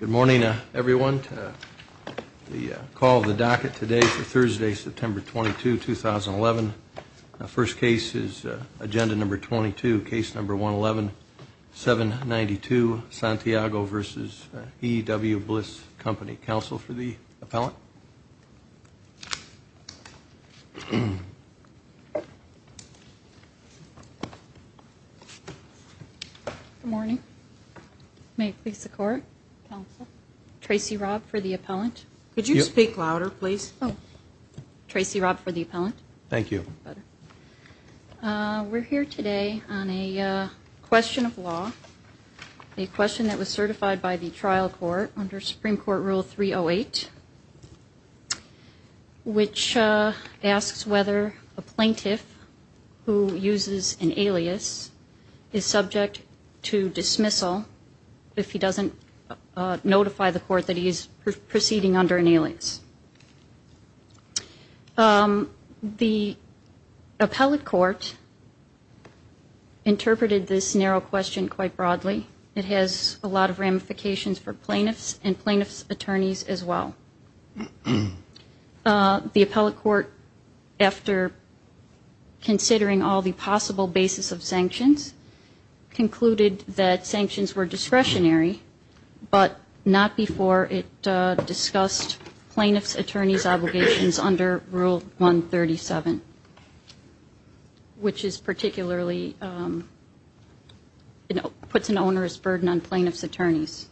Good morning, everyone. The call of the docket today for Thursday, September 22, 2011. First case is Agenda No. 22, Case No. 111792, Santiago v. E.W. Bliss Co. Counsel for the appellant. Good morning. May it please the Court? Counsel. Tracy Robb for the appellant. Could you speak louder, please? Tracy Robb for the appellant. Thank you. We're here today on a question of law, a question that was certified by the trial court under Supreme Court Rule 308, which asks whether a plaintiff who uses an alias is subject to dismissal if he doesn't notify the court that he is proceeding under an alias. The appellate court interpreted this narrow question quite broadly. It has a lot of ramifications for plaintiffs and plaintiffs' attorneys as well. The appellate court, after considering all the possible basis of sanctions, concluded that sanctions were discretionary, but not before it discussed plaintiffs' attorneys' obligations under Rule 137, which is particularly, you know, puts an onerous burden on plaintiffs' attorneys.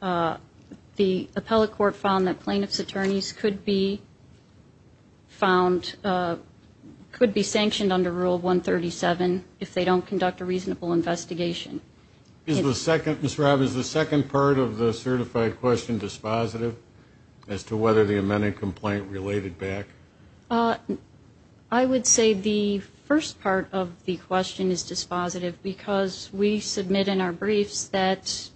The appellate court found that plaintiffs' attorneys could be found, could be sanctioned under Rule 137 if they don't conduct a reasonable investigation. Ms. Robb, is the second part of the certified question dispositive as to whether the amended complaint related back? I would say the first part of the question is dispositive because we submit in our briefs that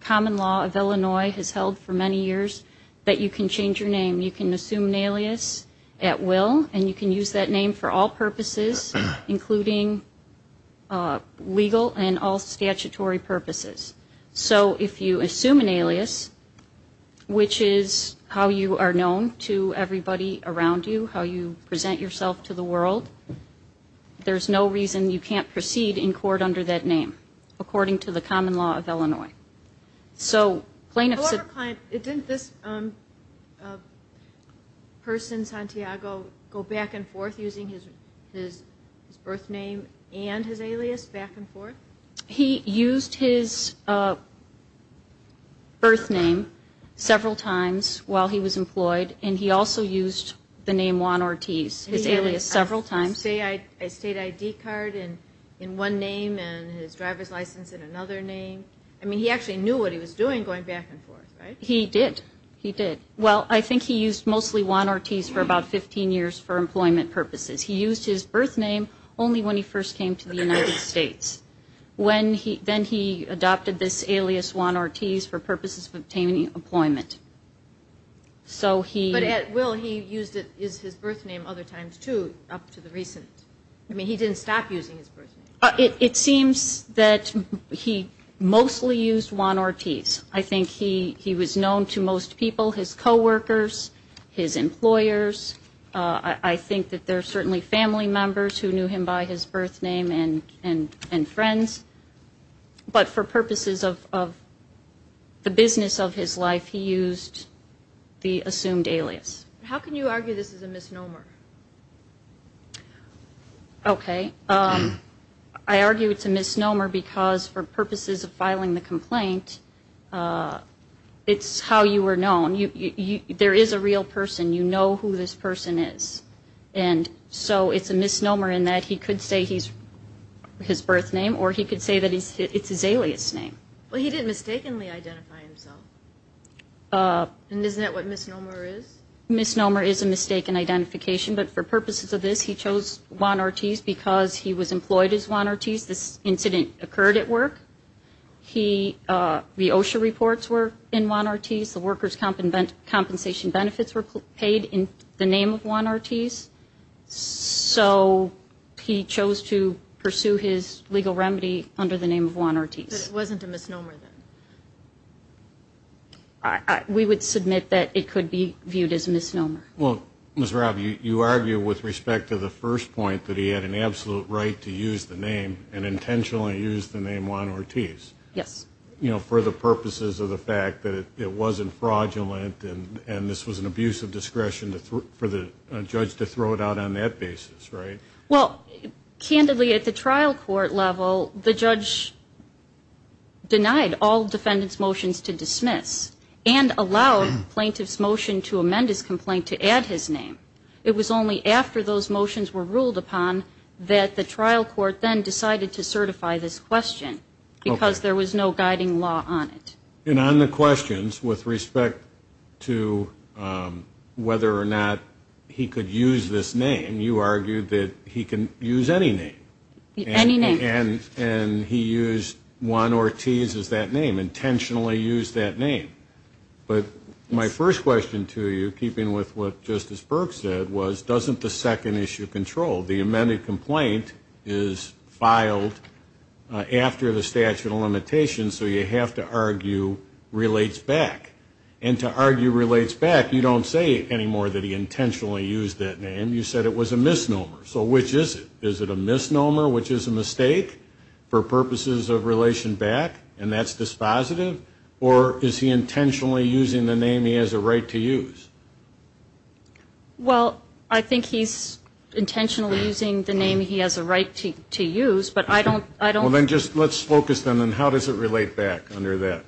common law of Illinois has held for many years, that you can change your name. You can assume an alias at will, and you can use that name for all purposes, including legal and all statutory purposes. So if you assume an alias, which is how you are known to everybody around you, how you present yourself to the world, there's no reason you can't proceed in court under that name, according to the common law of Illinois. However, didn't this person, Santiago, go back and forth using his birth name and his alias back and forth? He used his birth name several times while he was employed, and he also used the name Juan Ortiz, his alias, several times. He had a state ID card in one name and his driver's license in another name. I mean, he actually knew what he was doing going back and forth, right? He did. He did. Well, I think he used mostly Juan Ortiz for about 15 years for employment purposes. He used his birth name only when he first came to the United States. Then he adopted this alias, Juan Ortiz, for purposes of obtaining employment. But at will, he used it as his birth name other times, too, up to the recent. I mean, he didn't stop using his birth name. It seems that he mostly used Juan Ortiz. I think he was known to most people, his co-workers, his employers. I think that there are certainly family members who knew him by his birth name and friends. But for purposes of the business of his life, he used the assumed alias. How can you argue this is a misnomer? Okay. I argue it's a misnomer because for purposes of filing the complaint, it's how you were known. There is a real person. You know who this person is. And so it's a misnomer in that he could say his birth name or he could say that it's his alias name. Well, he did mistakenly identify himself. And isn't that what misnomer is? Misnomer is a mistaken identification. But for purposes of this, he chose Juan Ortiz because he was employed as Juan Ortiz. This incident occurred at work. The OSHA reports were in Juan Ortiz. The workers' compensation benefits were paid in the name of Juan Ortiz. So he chose to pursue his legal remedy under the name of Juan Ortiz. But it wasn't a misnomer then? We would submit that it could be viewed as a misnomer. Well, Ms. Robb, you argue with respect to the first point that he had an absolute right to use the name and intentionally use the name Juan Ortiz. Yes. You know, for the purposes of the fact that it wasn't fraudulent and this was an abuse of discretion for the judge to throw it out on that basis, right? Well, candidly, at the trial court level, the judge denied all defendant's motions to dismiss and allowed plaintiff's motion to amend his complaint to add his name. It was only after those motions were ruled upon that the trial court then decided to certify this question because there was no guiding law on it. And on the questions with respect to whether or not he could use this name, you argued that he can use any name. Any name. And he used Juan Ortiz as that name, intentionally used that name. But my first question to you, keeping with what Justice Burke said, was doesn't the second issue control? The amended complaint is filed after the statute of limitations, so you have to argue relates back. And to argue relates back, you don't say anymore that he intentionally used that name. You said it was a misnomer. So which is it? Is it a misnomer, which is a mistake for purposes of relation back, and that's dispositive? Or is he intentionally using the name he has a right to use? Well, I think he's intentionally using the name he has a right to use, but I don't know. Well, then just let's focus then on how does it relate back under that.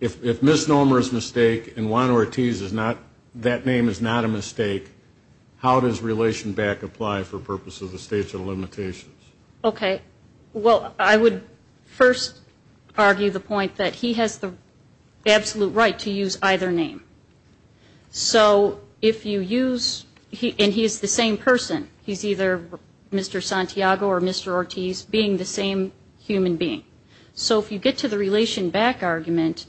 If misnomer is a mistake and Juan Ortiz is not, that name is not a mistake, how does relation back apply for purposes of the statute of limitations? Okay. Well, I would first argue the point that he has the absolute right to use either name. So if you use, and he's the same person, he's either Mr. Santiago or Mr. Ortiz, being the same human being. So if you get to the relation back argument,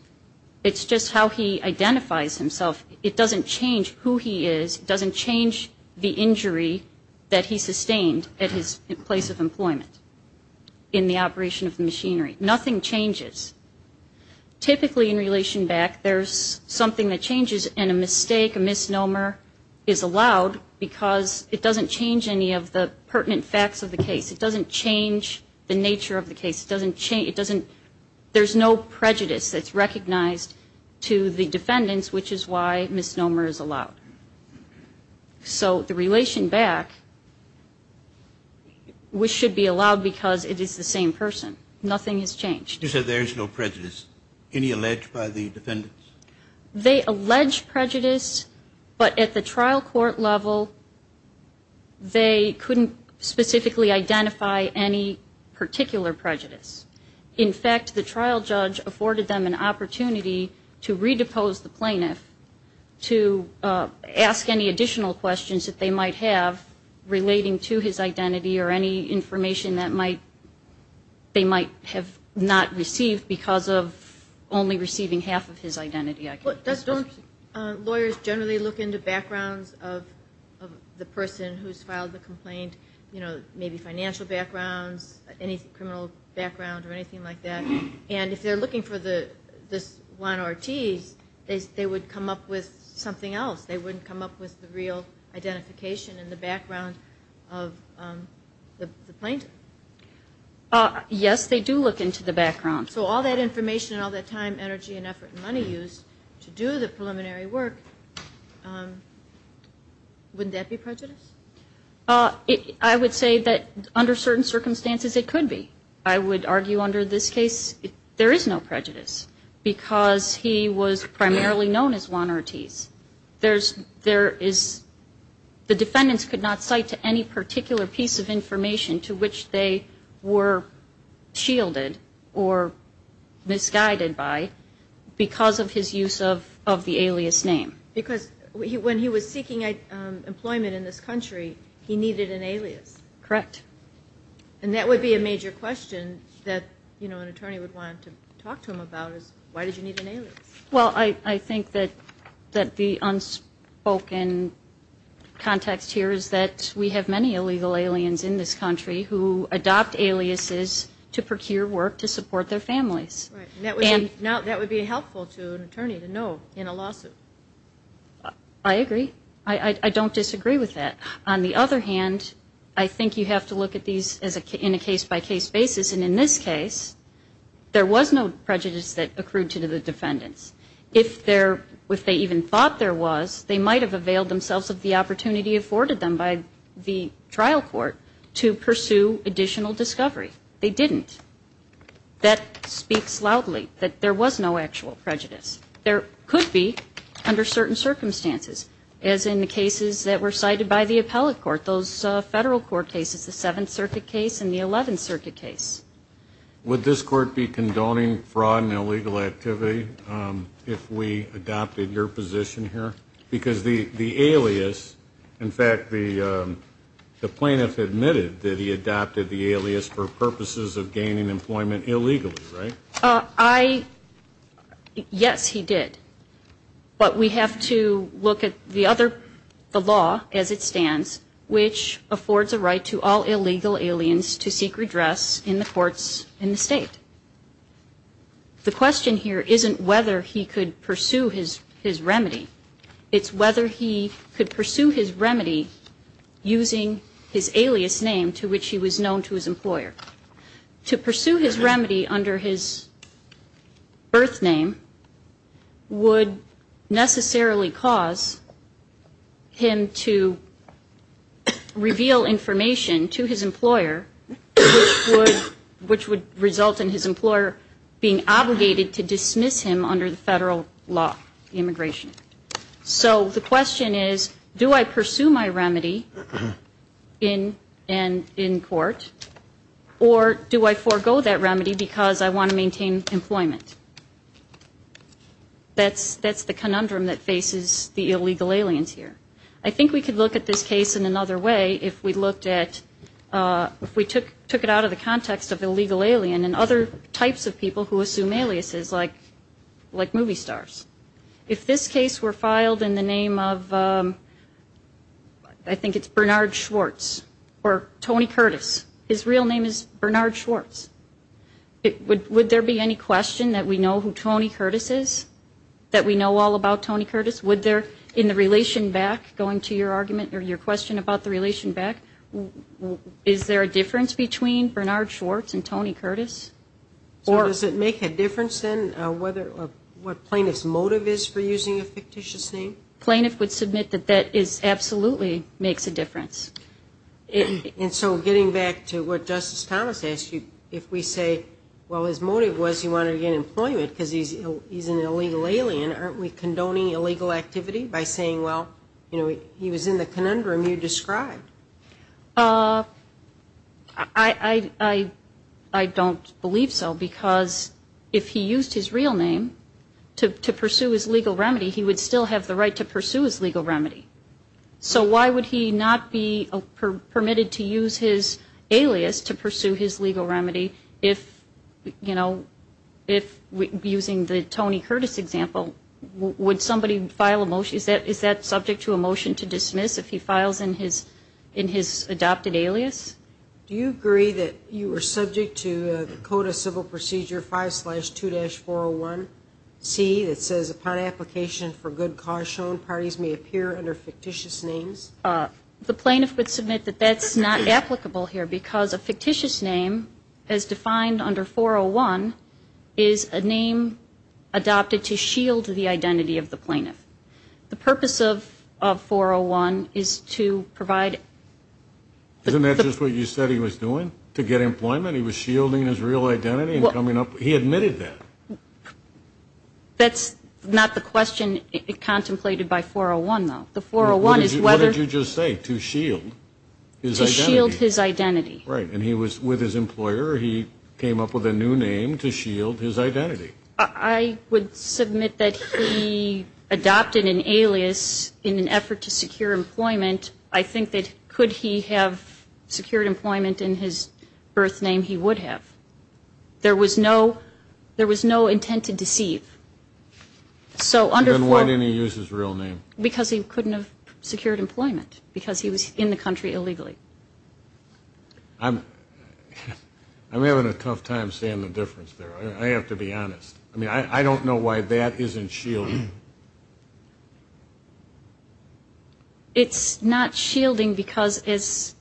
it's just how he identifies himself. It doesn't change who he is. It doesn't change the injury that he sustained at his place of employment in the operation of the machinery. Nothing changes. Typically in relation back, there's something that changes, and a mistake, a misnomer is allowed because it doesn't change any of the pertinent facts of the case. It doesn't change the nature of the case. It doesn't change, it doesn't, there's no prejudice that's recognized to the defendants, which is why misnomer is allowed. So the relation back should be allowed because it is the same person. Nothing has changed. You said there is no prejudice. Any alleged by the defendants? They allege prejudice, but at the trial court level, they couldn't specifically identify any particular prejudice. In fact, the trial judge afforded them an opportunity to redepose the plaintiff to ask any additional questions that they might have relating to his identity or any information that they might have not received because of only receiving half of his identity. Don't lawyers generally look into backgrounds of the person who's filed the complaint, maybe financial backgrounds, any criminal background or anything like that? And if they're looking for this Juan Ortiz, they would come up with something else. They wouldn't come up with the real identification and the background of the plaintiff. Yes, they do look into the background. So all that information and all that time, energy and effort and money used to do the preliminary work, wouldn't that be prejudice? I would say that under certain circumstances it could be. I would argue under this case there is no prejudice because he was primarily known as Juan Ortiz. The defendants could not cite to any particular piece of information to which they were shielded or misguided by because of his use of the alias name. Because when he was seeking employment in this country, he needed an alias. Correct. And that would be a major question that an attorney would want to talk to him about is why did you need an alias? Well, I think that the unspoken context here is that we have many illegal aliens in this country who adopt aliases to procure work to support their families. And that would be helpful to an attorney to know in a lawsuit. I agree. I don't disagree with that. On the other hand, I think you have to look at these in a case-by-case basis. And in this case, there was no prejudice that accrued to the defendants. If they even thought there was, they might have availed themselves of the opportunity afforded them by the trial court to pursue additional discovery. They didn't. That speaks loudly, that there was no actual prejudice. There could be under certain circumstances, as in the cases that were cited by the appellate court, those federal court cases, the Seventh Circuit case and the Eleventh Circuit case. Would this court be condoning fraud and illegal activity if we adopted your position here? Because the alias, in fact, the plaintiff admitted that he adopted the alias for purposes of gaining employment illegally, right? Yes, he did. But we have to look at the other, the law as it stands, which affords a right to all illegal aliens to seek redress in the courts in the state. The question here isn't whether he could pursue his remedy. It's whether he could pursue his remedy using his alias name to which he was known to his employer. To pursue his remedy under his birth name would necessarily cause him to reveal information to his employer, which would result in his employer being obligated to dismiss him under the federal law, immigration. So the question is, do I pursue my remedy in court, or do I forego that remedy because I want to maintain employment? That's the conundrum that faces the illegal aliens here. I think we could look at this case in another way if we looked at, if we took it out of the context of illegal alien and other types of people who assume aliases, like movie stars. If this case were filed in the name of, I think it's Bernard Schwartz or Tony Curtis, his real name is Bernard Schwartz, would there be any question that we know who Tony Curtis is, that we know all about Tony Curtis? Would there, in the relation back, going to your argument or your question about the relation back, is there a difference between Bernard Schwartz and Tony Curtis? Does it make a difference, then, what plaintiff's motive is for using a fictitious name? Plaintiff would submit that that absolutely makes a difference. And so getting back to what Justice Thomas asked you, if we say, well, his motive was he wanted to get employment because he's an illegal alien, aren't we condoning illegal activity by saying, well, he was in the conundrum you described? I don't believe so, because if he used his real name to pursue his legal remedy, he would still have the right to pursue his legal remedy. So why would he not be permitted to use his alias to pursue his legal remedy if, you know, if using the Tony Curtis example, would somebody file a motion, is that subject to a motion to dismiss, if he files in his adopted alias? Do you agree that you were subject to the Code of Civil Procedure 5-2-401C that says, upon application for good cause shown, parties may appear under fictitious names? The plaintiff would submit that that's not applicable here because a fictitious name, as defined under 401, is a name adopted to shield the identity of the plaintiff. The purpose of 401 is to provide. Isn't that just what you said he was doing, to get employment? He was shielding his real identity and coming up. He admitted that. That's not the question contemplated by 401, though. The 401 is whether. What did you just say, to shield his identity? To shield his identity. Right, and he was with his employer. He came up with a new name to shield his identity. I would submit that he adopted an alias in an effort to secure employment. I think that could he have secured employment in his birth name, he would have. There was no intent to deceive. Then why didn't he use his real name? Because he couldn't have secured employment because he was in the country illegally. I'm having a tough time seeing the difference there. I have to be honest. I don't know why that isn't shielding. It's not shielding because his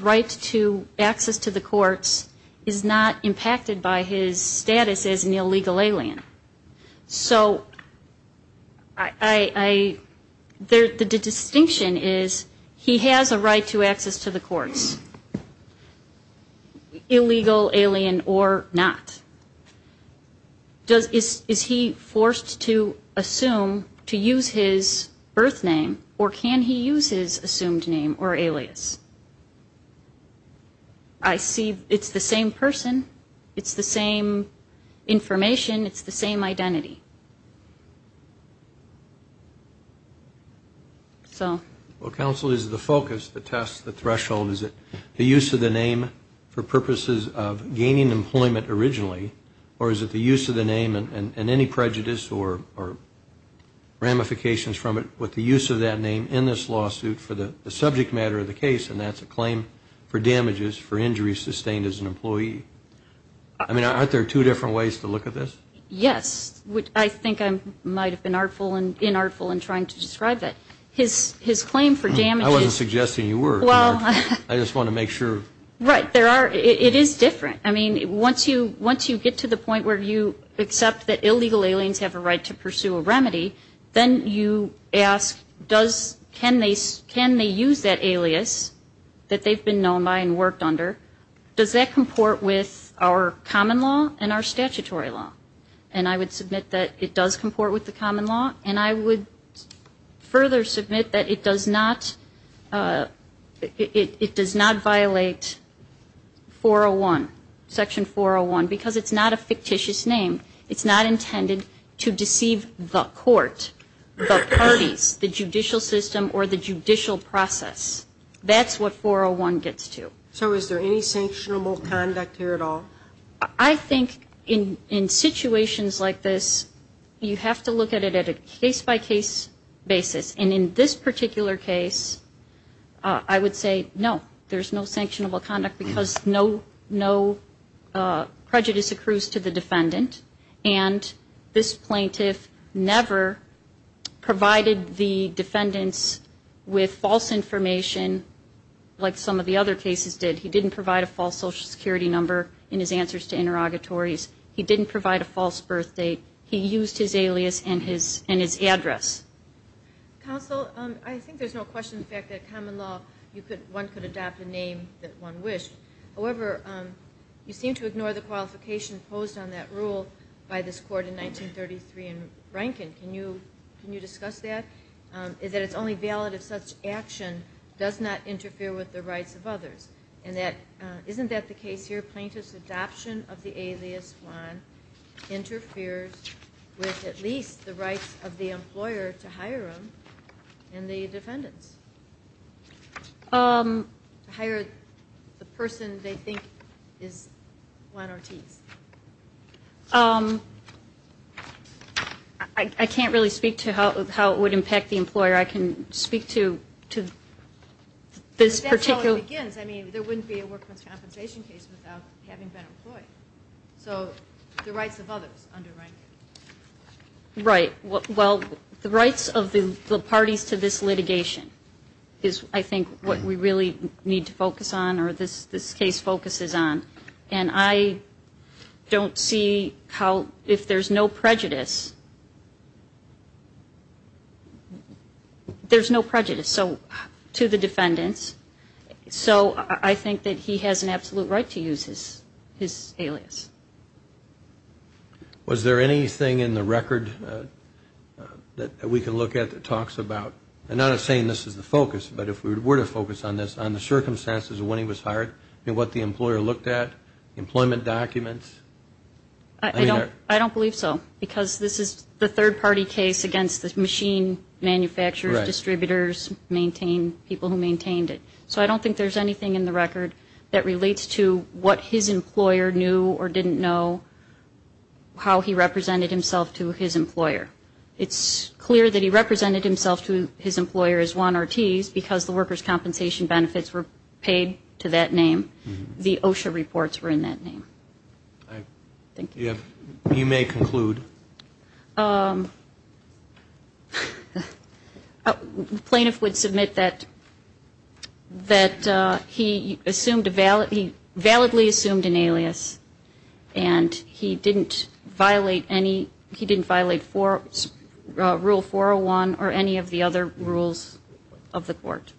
right to access to the courts is not impacted by his status as an illegal alien. So the distinction is he has a right to access to the courts, illegal alien or not. Is he forced to assume, to use his birth name, or can he use his assumed name or alias? I see it's the same person. It's the same information. It's the same identity. Well, counsel, is the focus, the test, the threshold, is it the use of the name for purposes of gaining employment originally, or is it the use of the name and any prejudice or ramifications from it with the use of that name in this lawsuit for the subject matter of the case, and that's a claim for damages for injuries sustained as an employee? I mean, aren't there two different ways to look at this? Yes. I think I might have been artful and inartful in trying to describe it. His claim for damages – I wasn't suggesting you were. I just want to make sure. Right. It is different. I mean, once you get to the point where you accept that illegal aliens have a right to pursue a remedy, then you ask, can they use that alias that they've been known by and worked under? Does that comport with our common law and our statutory law? And I would submit that it does comport with the common law, and I would further submit that it does not violate Section 401 because it's not a fictitious name. It's not intended to deceive the court, the parties, the judicial system, or the judicial process. That's what 401 gets to. So is there any sanctionable conduct here at all? I think in situations like this, you have to look at it at a case-by-case basis. And in this particular case, I would say no. There's no sanctionable conduct because no prejudice accrues to the defendant, and this plaintiff never provided the defendants with false information like some of the other cases did. He didn't provide a false Social Security number in his answers to interrogatories. He didn't provide a false birth date. He used his alias and his address. Counsel, I think there's no question of the fact that common law, one could adopt a name that one wished. However, you seem to ignore the qualification imposed on that rule by this Court in 1933 in Rankin. Can you discuss that? Is it only valid if such action does not interfere with the rights of others? And isn't that the case here? The plaintiff's adoption of the alias Juan interferes with at least the rights of the employer to hire him and the defendants? Hire the person they think is Juan Ortiz. I can't really speak to how it would impact the employer. I can speak to this particular. Well, it begins. I mean, there wouldn't be a workman's compensation case without having been employed. So the rights of others under Rankin. Right. Well, the rights of the parties to this litigation is, I think, what we really need to focus on or this case focuses on. And I don't see how if there's no prejudice, there's no prejudice. To the defendants. So I think that he has an absolute right to use his alias. Was there anything in the record that we can look at that talks about, and I'm not saying this is the focus, but if we were to focus on this, on the circumstances of when he was hired and what the employer looked at, employment documents? I don't believe so. Because this is the third-party case against the machine manufacturers, distributors, people who maintained it. So I don't think there's anything in the record that relates to what his employer knew or didn't know how he represented himself to his employer. It's clear that he represented himself to his employer as Juan Ortiz because the workers' compensation benefits were paid to that name. The OSHA reports were in that name. Thank you. You may conclude. The plaintiff would submit that he validly assumed an alias and he didn't violate Rule 401 or any of the other rules of the court.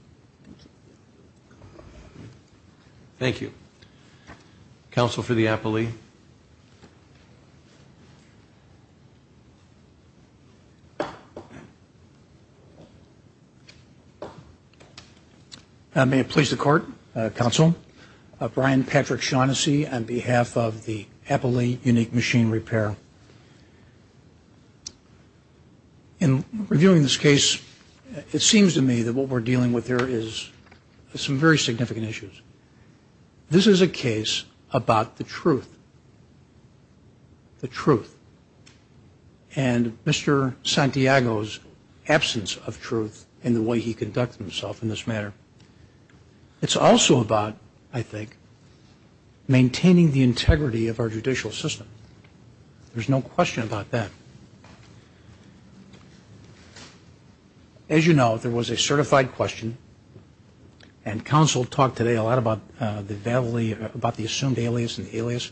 Thank you. Thank you. Counsel for the appellee. May it please the Court, Counsel, Brian Patrick Shaughnessy on behalf of the Appellee Unique Machine Repair. In reviewing this case, it seems to me that what we're dealing with here is some very significant issues. This is a case about the truth, the truth, and Mr. Santiago's absence of truth in the way he conducted himself in this matter. It's also about, I think, maintaining the integrity of our judicial system. There's no question about that. As you know, there was a certified question, and Counsel talked today a lot about the assumed alias and the alias,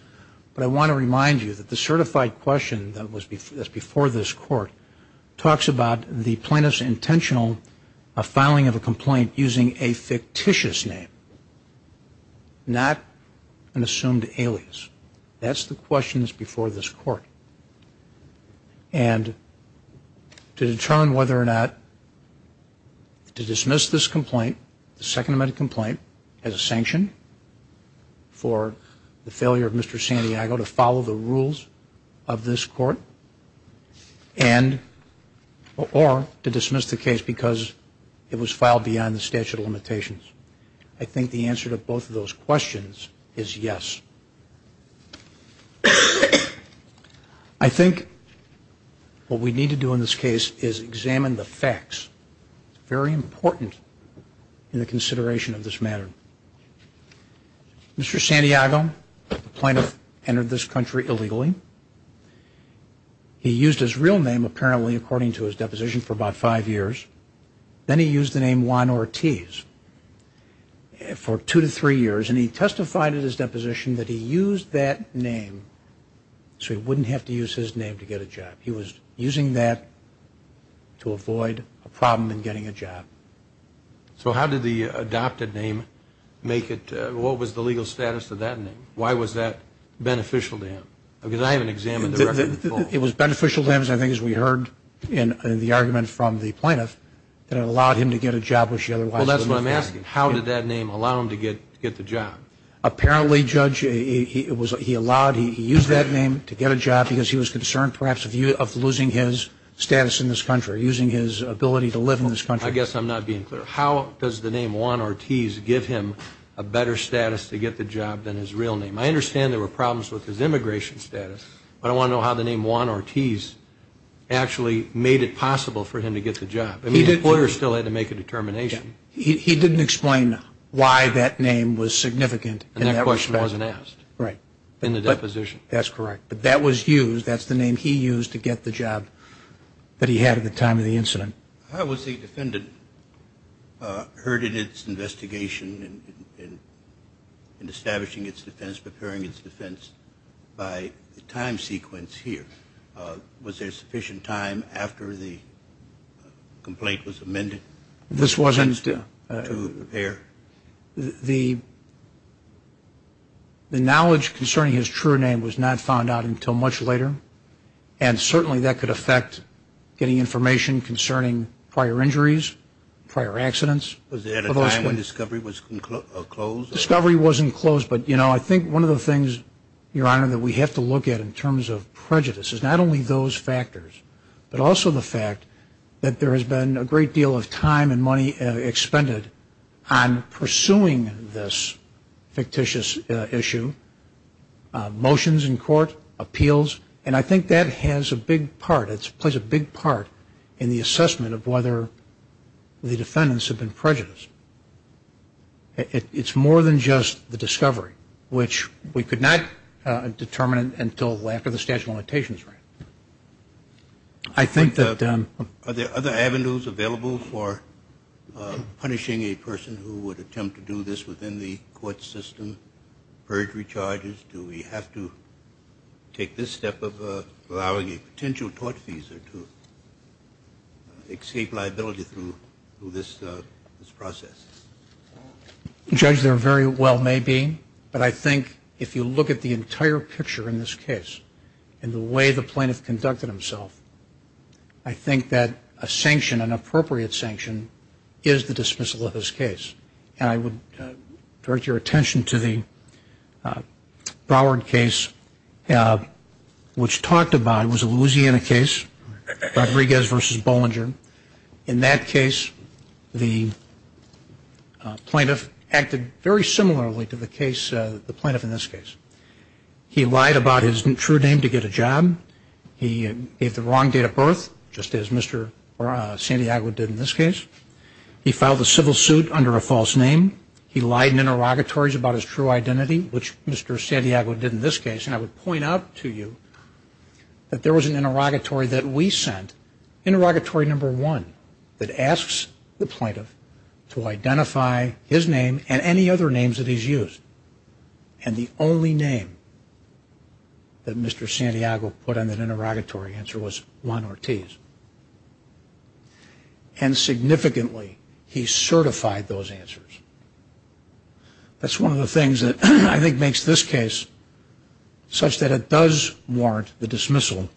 but I want to remind you that the certified question that's before this Court talks about the plaintiff's intentional filing of a complaint using a fictitious name, not an assumed alias. And to determine whether or not to dismiss this complaint, the Second Amendment complaint, as a sanction for the failure of Mr. Santiago to follow the rules of this Court or to dismiss the case because it was filed beyond the statute of limitations, I think the answer to both of those questions is yes. I think what we need to do in this case is examine the facts. It's very important in the consideration of this matter. Mr. Santiago, the plaintiff, entered this country illegally. He used his real name, apparently, according to his deposition, for about five years. Then he used the name Juan Ortiz for two to three years, and he testified in his deposition that he used that name so he wouldn't have to use his name to get a job. He was using that to avoid a problem in getting a job. So how did the adopted name make it? What was the legal status of that name? Why was that beneficial to him? Because I haven't examined the record before. It was beneficial to him, I think, as we heard in the argument from the plaintiff, that it allowed him to get a job, which he otherwise wouldn't have. Well, that's what I'm asking. How did that name allow him to get the job? Apparently, Judge, he allowed, he used that name to get a job because he was concerned perhaps of losing his status in this country, using his ability to live in this country. I guess I'm not being clear. How does the name Juan Ortiz give him a better status to get the job than his real name? I understand there were problems with his immigration status, but I want to know how the name Juan Ortiz actually made it possible for him to get the job. I mean, the court still had to make a determination. He didn't explain why that name was significant. And that question wasn't asked in the deposition. That's correct. But that was used, that's the name he used to get the job that he had at the time of the incident. How was the defendant heard in its investigation in establishing its defense, preparing its defense by the time sequence here? Was there sufficient time after the complaint was amended to prepare? The knowledge concerning his true name was not found out until much later, and certainly that could affect getting information concerning prior injuries, prior accidents. Was there a time when discovery was closed? Discovery wasn't closed. But, you know, I think one of the things, Your Honor, that we have to look at in terms of prejudice is not only those factors, but also the fact that there has been a great deal of time and money expended on pursuing this fictitious issue, motions in court, appeals. And I think that has a big part, it plays a big part in the assessment of whether the defendants have been prejudiced. It's more than just the discovery, which we could not determine until after the statute of limitations ran. I think that- Are there other avenues available for punishing a person who would attempt to do this within the court system, perjury charges? Do we have to take this step of allowing a potential tort visa to escape liability through this process? Judge, there very well may be, but I think if you look at the entire picture in this case and the way the plaintiff conducted himself, I think that a sanction, an appropriate sanction, is the dismissal of this case. I would direct your attention to the Broward case, which talked about, it was a Louisiana case, Rodriguez v. Bollinger. In that case, the plaintiff acted very similarly to the case, the plaintiff in this case. He lied about his true name to get a job. He gave the wrong date of birth, just as Mr. Santiago did in this case. He filed a civil suit under a false name. He lied in interrogatories about his true identity, which Mr. Santiago did in this case. And I would point out to you that there was an interrogatory that we sent, interrogatory number one, that asks the plaintiff to identify his name and any other names that he's used. And the only name that Mr. Santiago put on that interrogatory answer was Juan Ortiz. And significantly, he certified those answers. That's one of the things that I think makes this case such that it does warrant the dismissal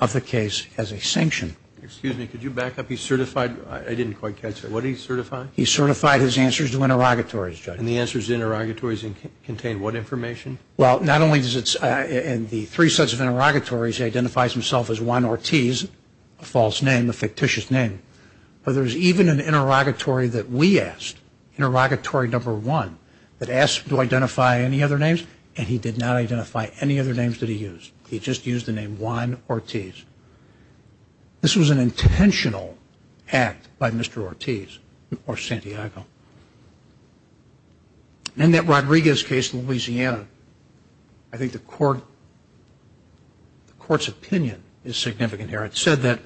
of the case as a sanction. Excuse me, could you back up? He certified, I didn't quite catch that. What did he certify? He certified his answers to interrogatories, Judge. And the answers to interrogatories contained what information? Well, not only does it, in the three sets of interrogatories, identifies himself as Juan Ortiz, a false name, a fictitious name, but there's even an interrogatory that we asked, interrogatory number one, that asks to identify any other names, and he did not identify any other names that he used. He just used the name Juan Ortiz. This was an intentional act by Mr. Ortiz or Santiago. In that Rodriguez case in Louisiana, I think the court's opinion is significant here. It said that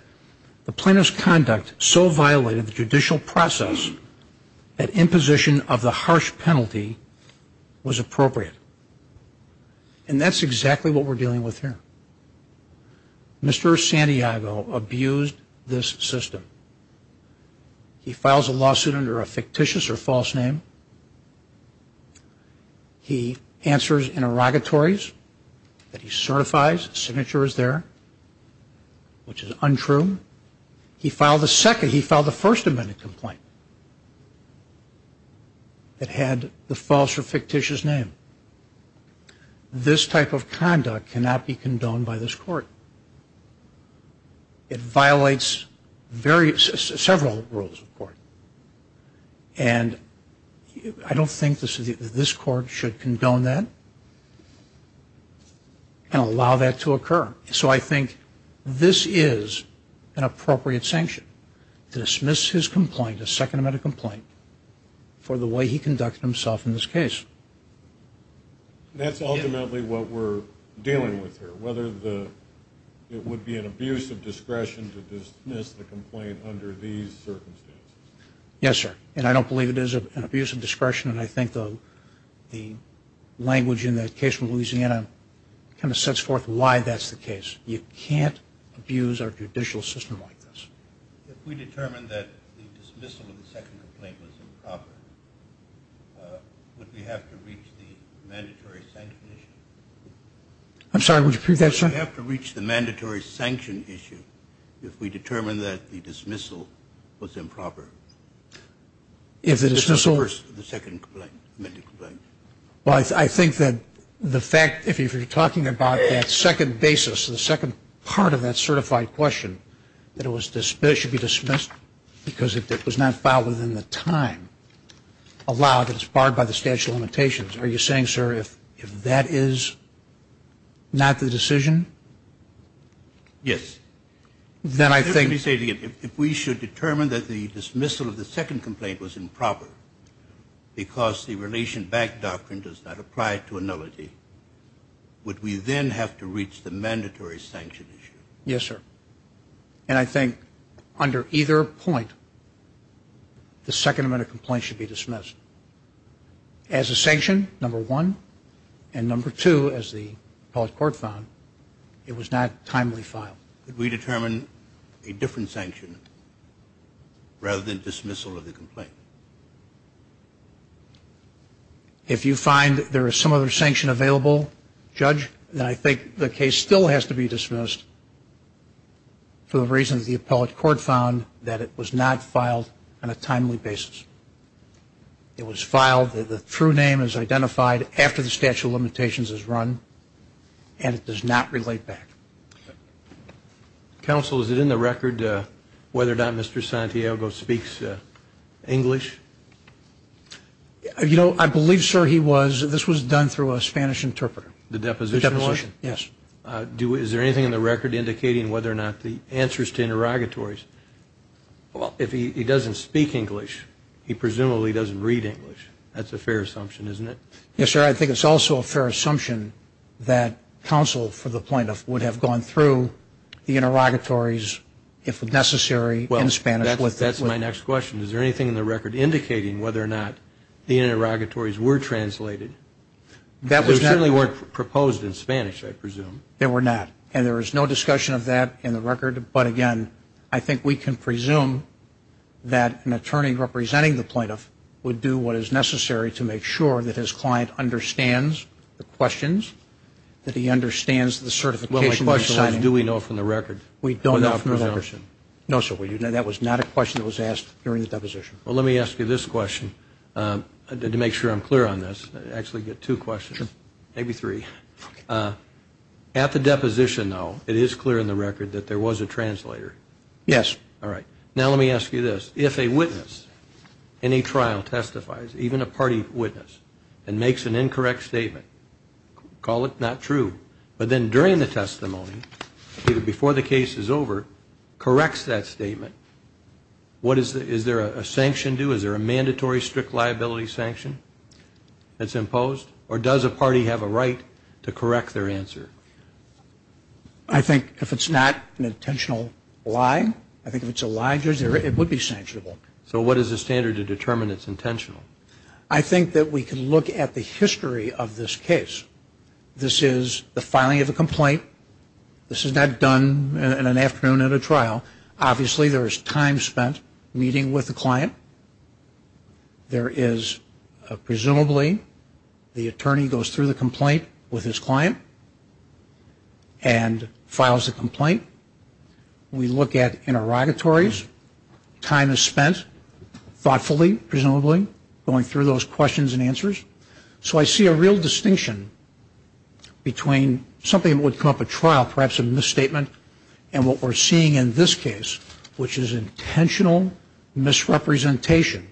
the plaintiff's conduct so violated the judicial process that imposition of the harsh penalty was appropriate. And that's exactly what we're dealing with here. Mr. Santiago abused this system. He files a lawsuit under a fictitious or false name. He answers interrogatories that he certifies. The signature is there, which is untrue. He filed the second, he filed the First Amendment complaint that had the false or fictitious name. This type of conduct cannot be condoned by this court. It violates various, several rules of court. And I don't think this court should condone that and allow that to occur. So I think this is an appropriate sanction to dismiss his complaint, the Second Amendment complaint, for the way he conducted himself in this case. That's ultimately what we're dealing with here, whether it would be an abuse of discretion to dismiss the complaint under these circumstances. Yes, sir. And I don't believe it is an abuse of discretion, and I think the language in that case from Louisiana kind of sets forth why that's the case. You can't abuse our judicial system like this. If we determine that the dismissal of the second complaint was improper, would we have to reach the mandatory sanction issue? I'm sorry, would you repeat that, sir? Would we have to reach the mandatory sanction issue if we determine that the dismissal was improper? If the dismissal? The second complaint. Well, I think that the fact, if you're talking about that second basis, the second part of that certified question, that it should be dismissed because it was not filed within the time allowed that is barred by the statute of limitations. Are you saying, sir, if that is not the decision? Yes. Let me say it again. If we should determine that the dismissal of the second complaint was improper because the relation back doctrine does not apply to an elegy, would we then have to reach the mandatory sanction issue? Yes, sir. And I think under either point, the second amendment complaint should be dismissed. As a sanction, number one, and number two, as the appellate court found, it was not timely filed. Could we determine a different sanction rather than dismissal of the complaint? If you find there is some other sanction available, judge, then I think the case still has to be dismissed for the reasons the appellate court found, that it was not filed on a timely basis. It was filed, the true name is identified after the statute of limitations is run, and it does not relate back. Counsel, is it in the record whether or not Mr. Santiago speaks English? You know, I believe, sir, he was. This was done through a Spanish interpreter. The deposition? The deposition, yes. Is there anything in the record indicating whether or not the answers to interrogatories? Well, if he doesn't speak English, he presumably doesn't read English. That's a fair assumption, isn't it? Yes, sir. I think it's also a fair assumption that counsel, for the plaintiff, would have gone through the interrogatories if necessary in Spanish. Well, that's my next question. Is there anything in the record indicating whether or not the interrogatories were translated? They certainly weren't proposed in Spanish, I presume. They were not. And there is no discussion of that in the record. But, again, I think we can presume that an attorney representing the plaintiff would do what is necessary to make sure that his client understands the questions, that he understands the certification. Well, my question was, do we know from the record? We don't know from the record. No, sir, we do not. That was not a question that was asked during the deposition. Well, let me ask you this question to make sure I'm clear on this. I actually get two questions, maybe three. At the deposition, though, it is clear in the record that there was a translator? Yes. All right. Now let me ask you this. If a witness in a trial testifies, even a party witness, and makes an incorrect statement, call it not true, but then during the testimony, before the case is over, corrects that statement, is there a sanction due? Is there a mandatory strict liability sanction that's imposed? Or does a party have a right to correct their answer? I think if it's not an intentional lie, I think if it's a lie, it would be sanctionable. So what is the standard to determine it's intentional? I think that we can look at the history of this case. This is the filing of a complaint. This is not done in an afternoon at a trial. Obviously, there is time spent meeting with the client. There is presumably the attorney goes through the complaint with his client and files the complaint. We look at interrogatories. Time is spent thoughtfully, presumably, going through those questions and answers. So I see a real distinction between something that would come up at trial, perhaps a misstatement, and what we're seeing in this case, which is intentional misrepresentation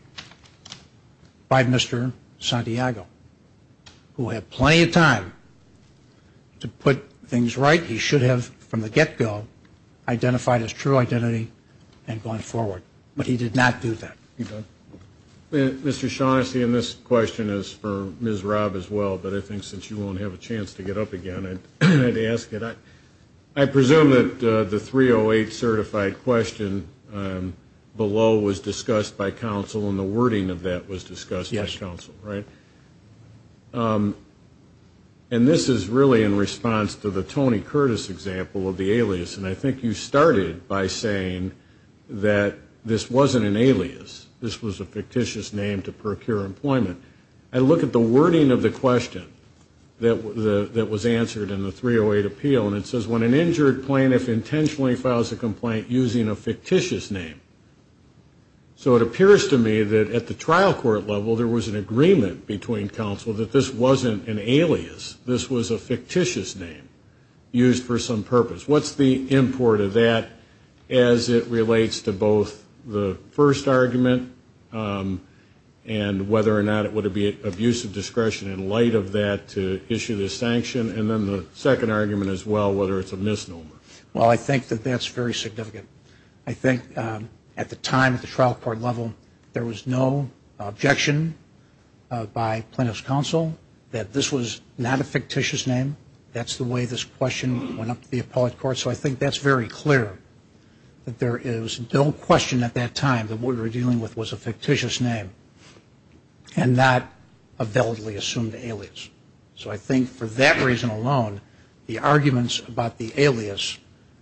by Mr. Santiago, who had plenty of time to put things right. He should have, from the get-go, identified his true identity and gone forward. But he did not do that. Mr. Shaughnessy, and this question is for Ms. Robb as well, but I think since you won't have a chance to get up again, I'd ask it. I presume that the 308 certified question below was discussed by counsel and the wording of that was discussed by counsel, right? Yes. And this is really in response to the Tony Curtis example of the alias, and I think you started by saying that this wasn't an alias. This was a fictitious name to procure employment. I look at the wording of the question that was answered in the 308 appeal, and it says when an injured plaintiff intentionally files a complaint using a fictitious name. So it appears to me that at the trial court level there was an agreement between counsel that this wasn't an alias. This was a fictitious name used for some purpose. What's the import of that as it relates to both the first argument and whether or not it would be of use of discretion in light of that to issue this sanction, and then the second argument as well, whether it's a misnomer? Well, I think that that's very significant. I think at the time at the trial court level there was no objection by plaintiff's counsel that this was not a fictitious name. That's the way this question went up to the appellate court, so I think that's very clear that there is no question at that time that what we were dealing with was a fictitious name and not a validly assumed alias. So I think for that reason alone the arguments about the alias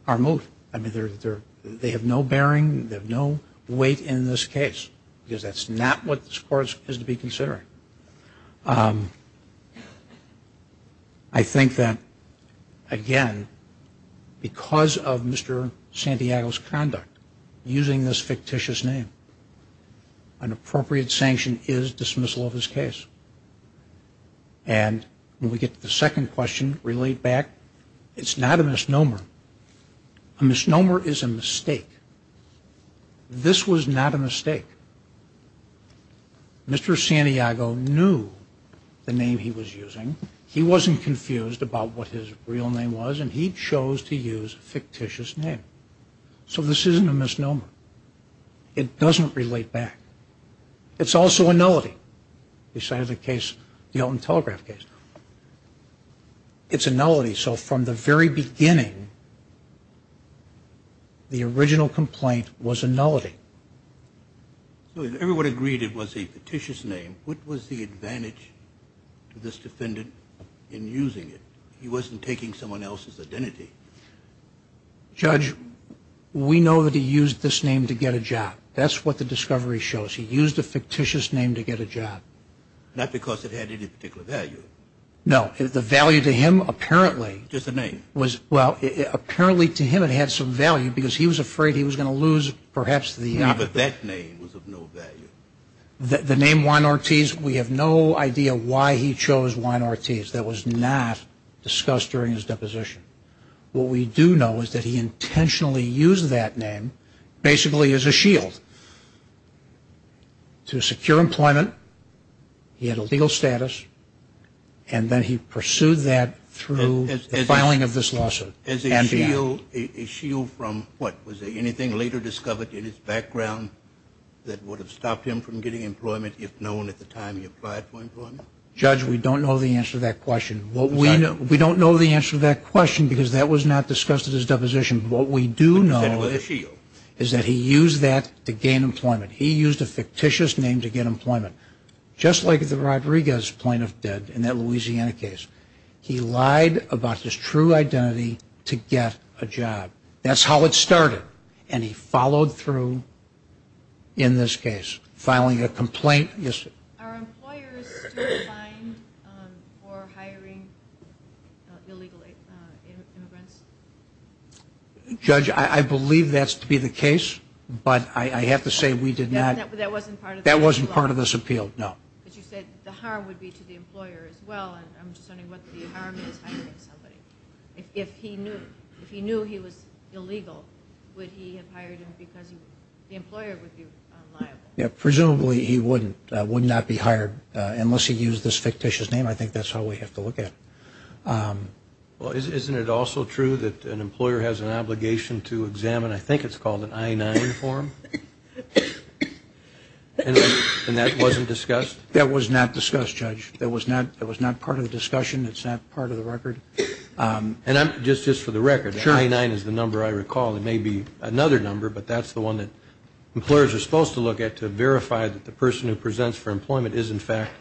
are moot. I mean they have no bearing, they have no weight in this case because that's not what this court is to be considering. I think that, again, because of Mr. Santiago's conduct using this fictitious name, an appropriate sanction is dismissal of his case. And when we get to the second question relayed back, it's not a misnomer. A misnomer is a mistake. This was not a mistake. Mr. Santiago knew the name he was using. He wasn't confused about what his real name was and he chose to use a fictitious name. So this isn't a misnomer. It doesn't relate back. It's also a nullity, besides the case, the Elton Telegraph case. It's a nullity, so from the very beginning the original complaint was a nullity. So if everyone agreed it was a fictitious name, what was the advantage to this defendant in using it? He wasn't taking someone else's identity. Judge, we know that he used this name to get a job. That's what the discovery shows. He used a fictitious name to get a job. Not because it had any particular value. No. The value to him, apparently. Just the name. Well, apparently to him it had some value because he was afraid he was going to lose perhaps the. But that name was of no value. The name Juan Ortiz, we have no idea why he chose Juan Ortiz. That was not discussed during his deposition. What we do know is that he intentionally used that name basically as a shield to secure employment. He had a legal status, and then he pursued that through the filing of this lawsuit. As a shield from what? Was there anything later discovered in his background that would have stopped him from getting employment, if known at the time he applied for employment? Judge, we don't know the answer to that question. We don't know the answer to that question because that was not discussed at his deposition. What we do know is that he used that to gain employment. He used a fictitious name to get employment, just like the Rodriguez plaintiff did in that Louisiana case. He lied about his true identity to get a job. That's how it started. And he followed through in this case, filing a complaint. Are employers still fined for hiring illegal immigrants? Judge, I believe that's to be the case, but I have to say we did not. That wasn't part of this appeal? No. But you said the harm would be to the employer as well, and I'm just wondering what the harm is hiring somebody. If he knew he was illegal, would he have hired him because the employer would be liable? Presumably he wouldn't. He would not be hired unless he used this fictitious name. I think that's how we have to look at it. Well, isn't it also true that an employer has an obligation to examine, I think it's called an I-9 form, and that wasn't discussed? That was not discussed, Judge. That was not part of the discussion. It's not part of the record. And just for the record, the I-9 is the number I recall. It may be another number, but that's the one that employers are supposed to look at to verify that the person who presents for employment is, in fact,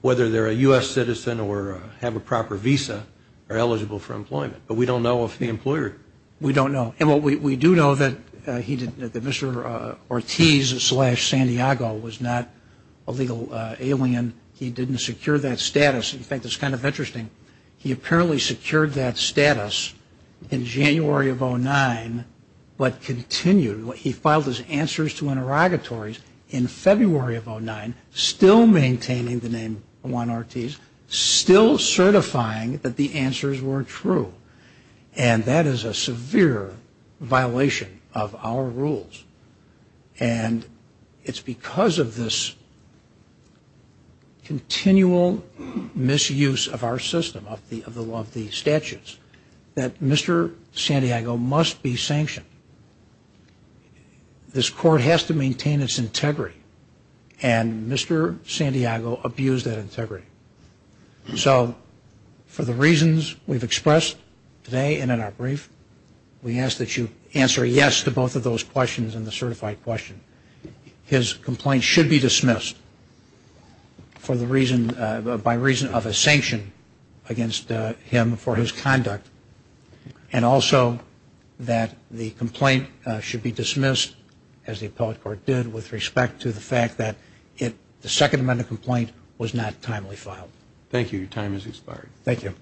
whether they're a U.S. citizen or have a proper visa, are eligible for employment. But we don't know if the employer. We don't know. And we do know that Mr. Ortiz slash Santiago was not a legal alien. He didn't secure that status. In fact, it's kind of interesting. He apparently secured that status in January of 2009 but continued. He filed his answers to interrogatories in February of 2009, still maintaining the name Juan Ortiz, still certifying that the answers were true. And that is a severe violation of our rules. And it's because of this continual misuse of our system, of the statutes, that Mr. Santiago must be sanctioned. This court has to maintain its integrity. And Mr. Santiago abused that integrity. So for the reasons we've expressed today and in our brief, we ask that you answer yes to both of those questions and the certified question. His complaint should be dismissed by reason of a sanction against him for his conduct and also that the complaint should be dismissed, as the appellate court did, with respect to the fact that the Second Amendment complaint was not timely filed. Thank you. Your time has expired. Thank you.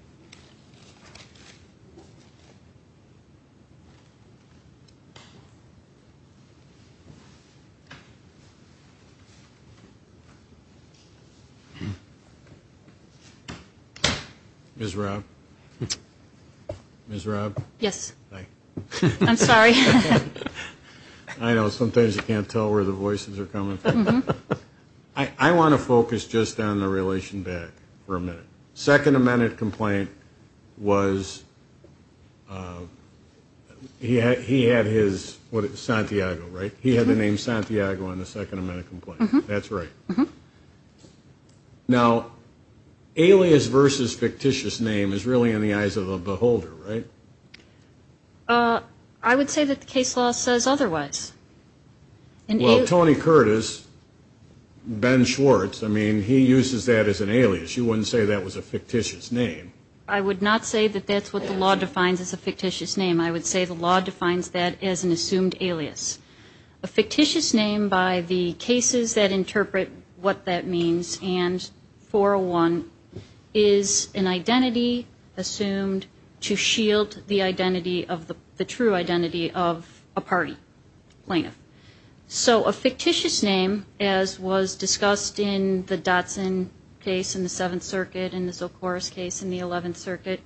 Ms. Robb? Yes. Hi. I'm sorry. I know. Sometimes you can't tell where the voices are coming from. I want to focus just on the relation back for a minute. Second Amendment complaint was he had his Santiago, right? He had the name Santiago on the Second Amendment complaint. That's right. Now, alias versus fictitious name is really in the eyes of the beholder, right? I would say that the case law says otherwise. Well, Tony Curtis, Ben Schwartz, I mean, he uses that as an alias. You wouldn't say that was a fictitious name. I would not say that that's what the law defines as a fictitious name. I would say the law defines that as an assumed alias. A fictitious name, by the cases that interpret what that means, and 401, is an identity assumed to shield the identity of the true identity of a party plaintiff. So a fictitious name, as was discussed in the Dotson case in the Seventh Circuit and the Socorros case in the Eleventh Circuit,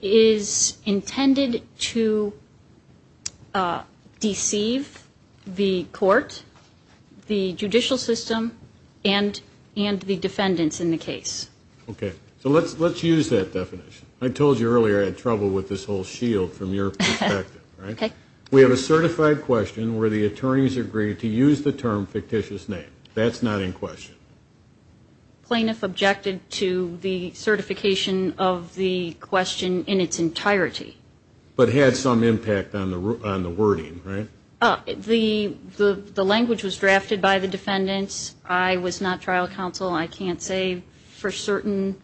is intended to deceive the court, the judicial system, and the defendants in the case. Okay. So let's use that definition. I told you earlier I had trouble with this whole shield from your perspective, right? Okay. We have a certified question where the attorneys agree to use the term fictitious name. That's not in question. Plaintiff objected to the certification of the question in its entirety. But had some impact on the wording, right? The language was drafted by the defendants. I was not trial counsel. I can't say for certain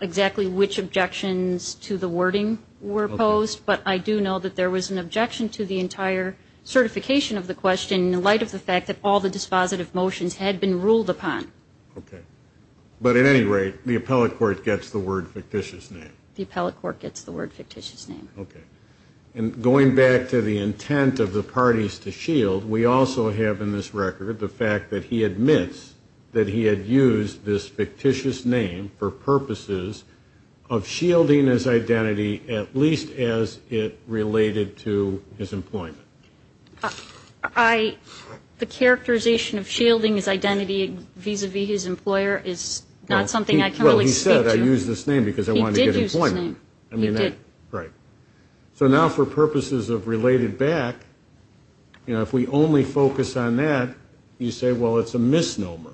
exactly which objections to the wording were posed, but I do know that there was an objection to the entire certification of the question in light of the fact that all the dispositive motions had been ruled upon. Okay. But at any rate, the appellate court gets the word fictitious name. The appellate court gets the word fictitious name. Okay. And going back to the intent of the parties to shield, we also have in this record the fact that he admits that he had used this fictitious name for purposes of shielding his identity at least as it related to his employment. The characterization of shielding his identity vis-a-vis his employer is not something I can really speak to. Well, he said, I used this name because I wanted to get employment. He did use this name. I mean that. He did. Right. So now for purposes of related back, you know, if we only focus on that, you say, well, it's a misnomer.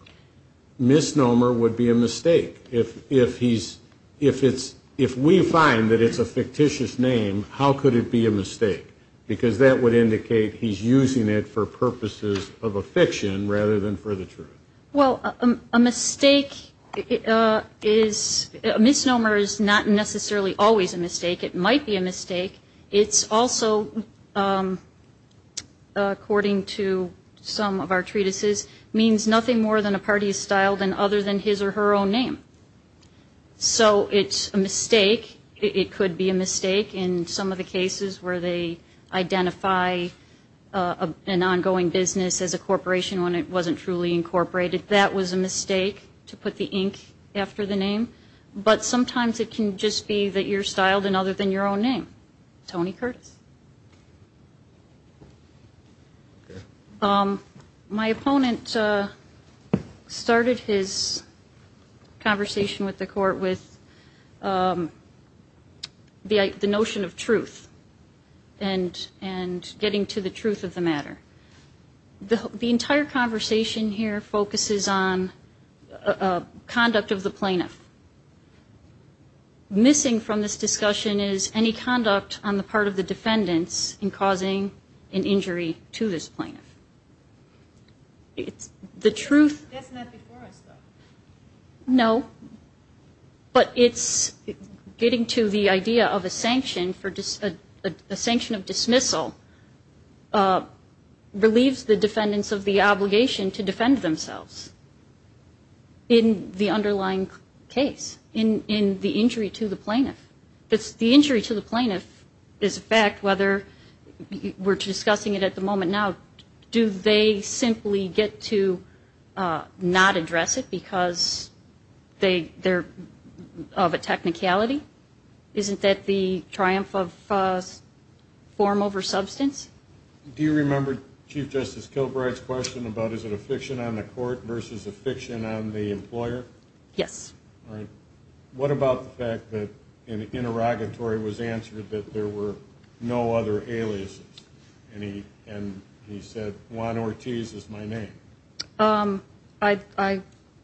Misnomer would be a mistake. If he's, if it's, if we find that it's a fictitious name, how could it be a mistake? Because that would indicate he's using it for purposes of a fiction rather than for the truth. Well, a mistake is, a misnomer is not necessarily always a mistake. It might be a mistake. It's also, according to some of our treatises, means nothing more than a party is styled in other than his or her own name. So it's a mistake. It could be a mistake in some of the cases where they identify an ongoing business as a corporation when it wasn't truly incorporated. But sometimes it can just be that you're styled in other than your own name. Tony Curtis. My opponent started his conversation with the court with the notion of truth and getting to the truth of the matter. The entire conversation here focuses on conduct of the plaintiff. Missing from this discussion is any conduct on the part of the defendants in causing an injury to this plaintiff. It's the truth. That's not before us though. No. But it's getting to the idea of a sanction of dismissal relieves the defendants of the obligation to defend themselves in the underlying case, in the injury to the plaintiff. The injury to the plaintiff is a fact whether we're discussing it at the moment now. Do they simply get to not address it because they're of a technicality? Isn't that the triumph of form over substance? Do you remember Chief Justice Kilbride's question about is it a fiction on the court versus a fiction on the employer? Yes. What about the fact that in interrogatory was answered that there were no other aliases? And he said, Juan Ortiz is my name. I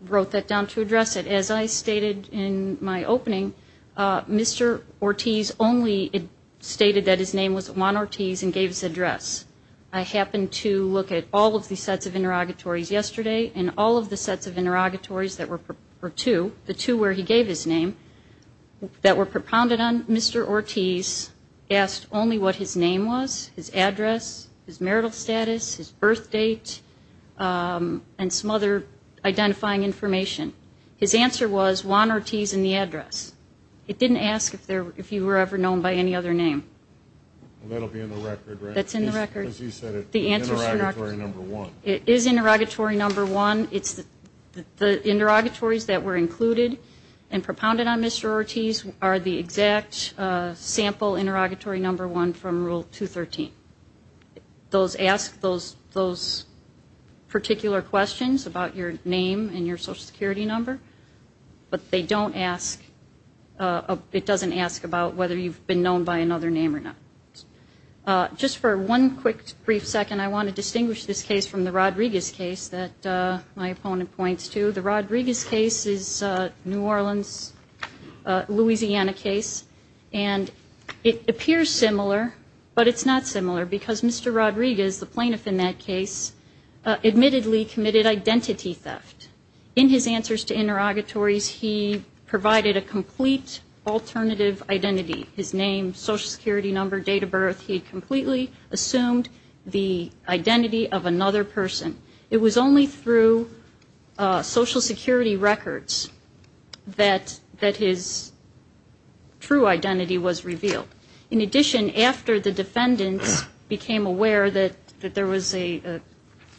wrote that down to address it. As I stated in my opening, Mr. Ortiz only stated that his name was Juan Ortiz and gave his address. I happened to look at all of the sets of interrogatories yesterday, and all of the sets of interrogatories that were two, the two where he gave his name, that were propounded on, Mr. Ortiz asked only what his name was, his address, his marital status, his birth date, and some other identifying information. His answer was Juan Ortiz and the address. It didn't ask if you were ever known by any other name. That will be in the record, right? That's in the record. Because you said it's interrogatory number one. It is interrogatory number one. The interrogatories that were included and propounded on Mr. Ortiz are the exact sample interrogatory number one from Rule 213. Those ask those particular questions about your name and your Social Security number, but they don't ask, it doesn't ask about whether you've been known by another name or not. Just for one quick brief second, I want to distinguish this case from the Rodriguez case that my opponent points to. The Rodriguez case is New Orleans, Louisiana case, and it appears similar, but it's not similar because Mr. Rodriguez, the plaintiff in that case, admittedly committed identity theft. In his answers to interrogatories, he provided a complete alternative identity. His name, Social Security number, date of birth, he completely assumed the identity of another person. It was only through Social Security records that his true identity was revealed. In addition, after the defendants became aware that there was a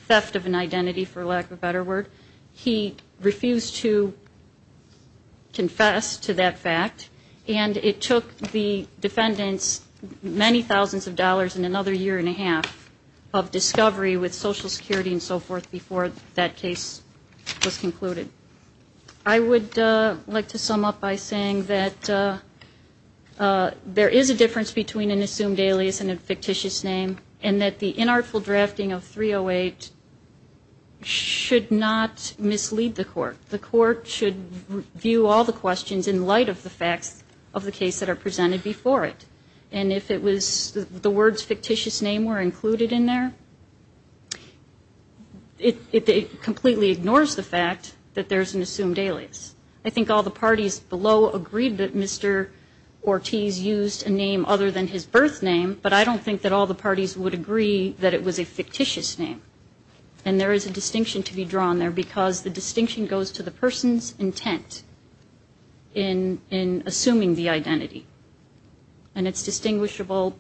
theft of an identity, for lack of a better word, he refused to confess to that fact, and it took the defendants many thousands of dollars and another year and a half of discovery with Social Security and so forth before that case was concluded. I would like to sum up by saying that there is a difference between an assumed alias and a fictitious name, and that the inartful drafting of 308 should not mislead the court. The court should view all the questions in light of the facts of the case that are presented before it, and if the words fictitious name were included in there, it completely ignores the fact that there's an assumed alias. I think all the parties below agreed that Mr. Ortiz used a name other than his birth name, but I don't think that all the parties would agree that it was a fictitious name, and there is a distinction to be drawn there because the distinction goes to the person's intent in assuming the identity, and it's distinguishable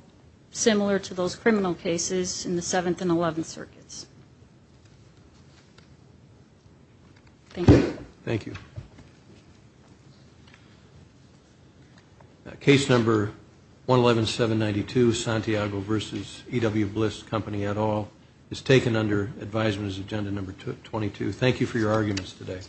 similar to those criminal cases in the Seventh and Eleventh Circuits. Thank you. Thank you. Thank you. Case number 111792, Santiago v. E.W. Bliss, Company et al., is taken under advisement as agenda number 22. Thank you for your arguments today.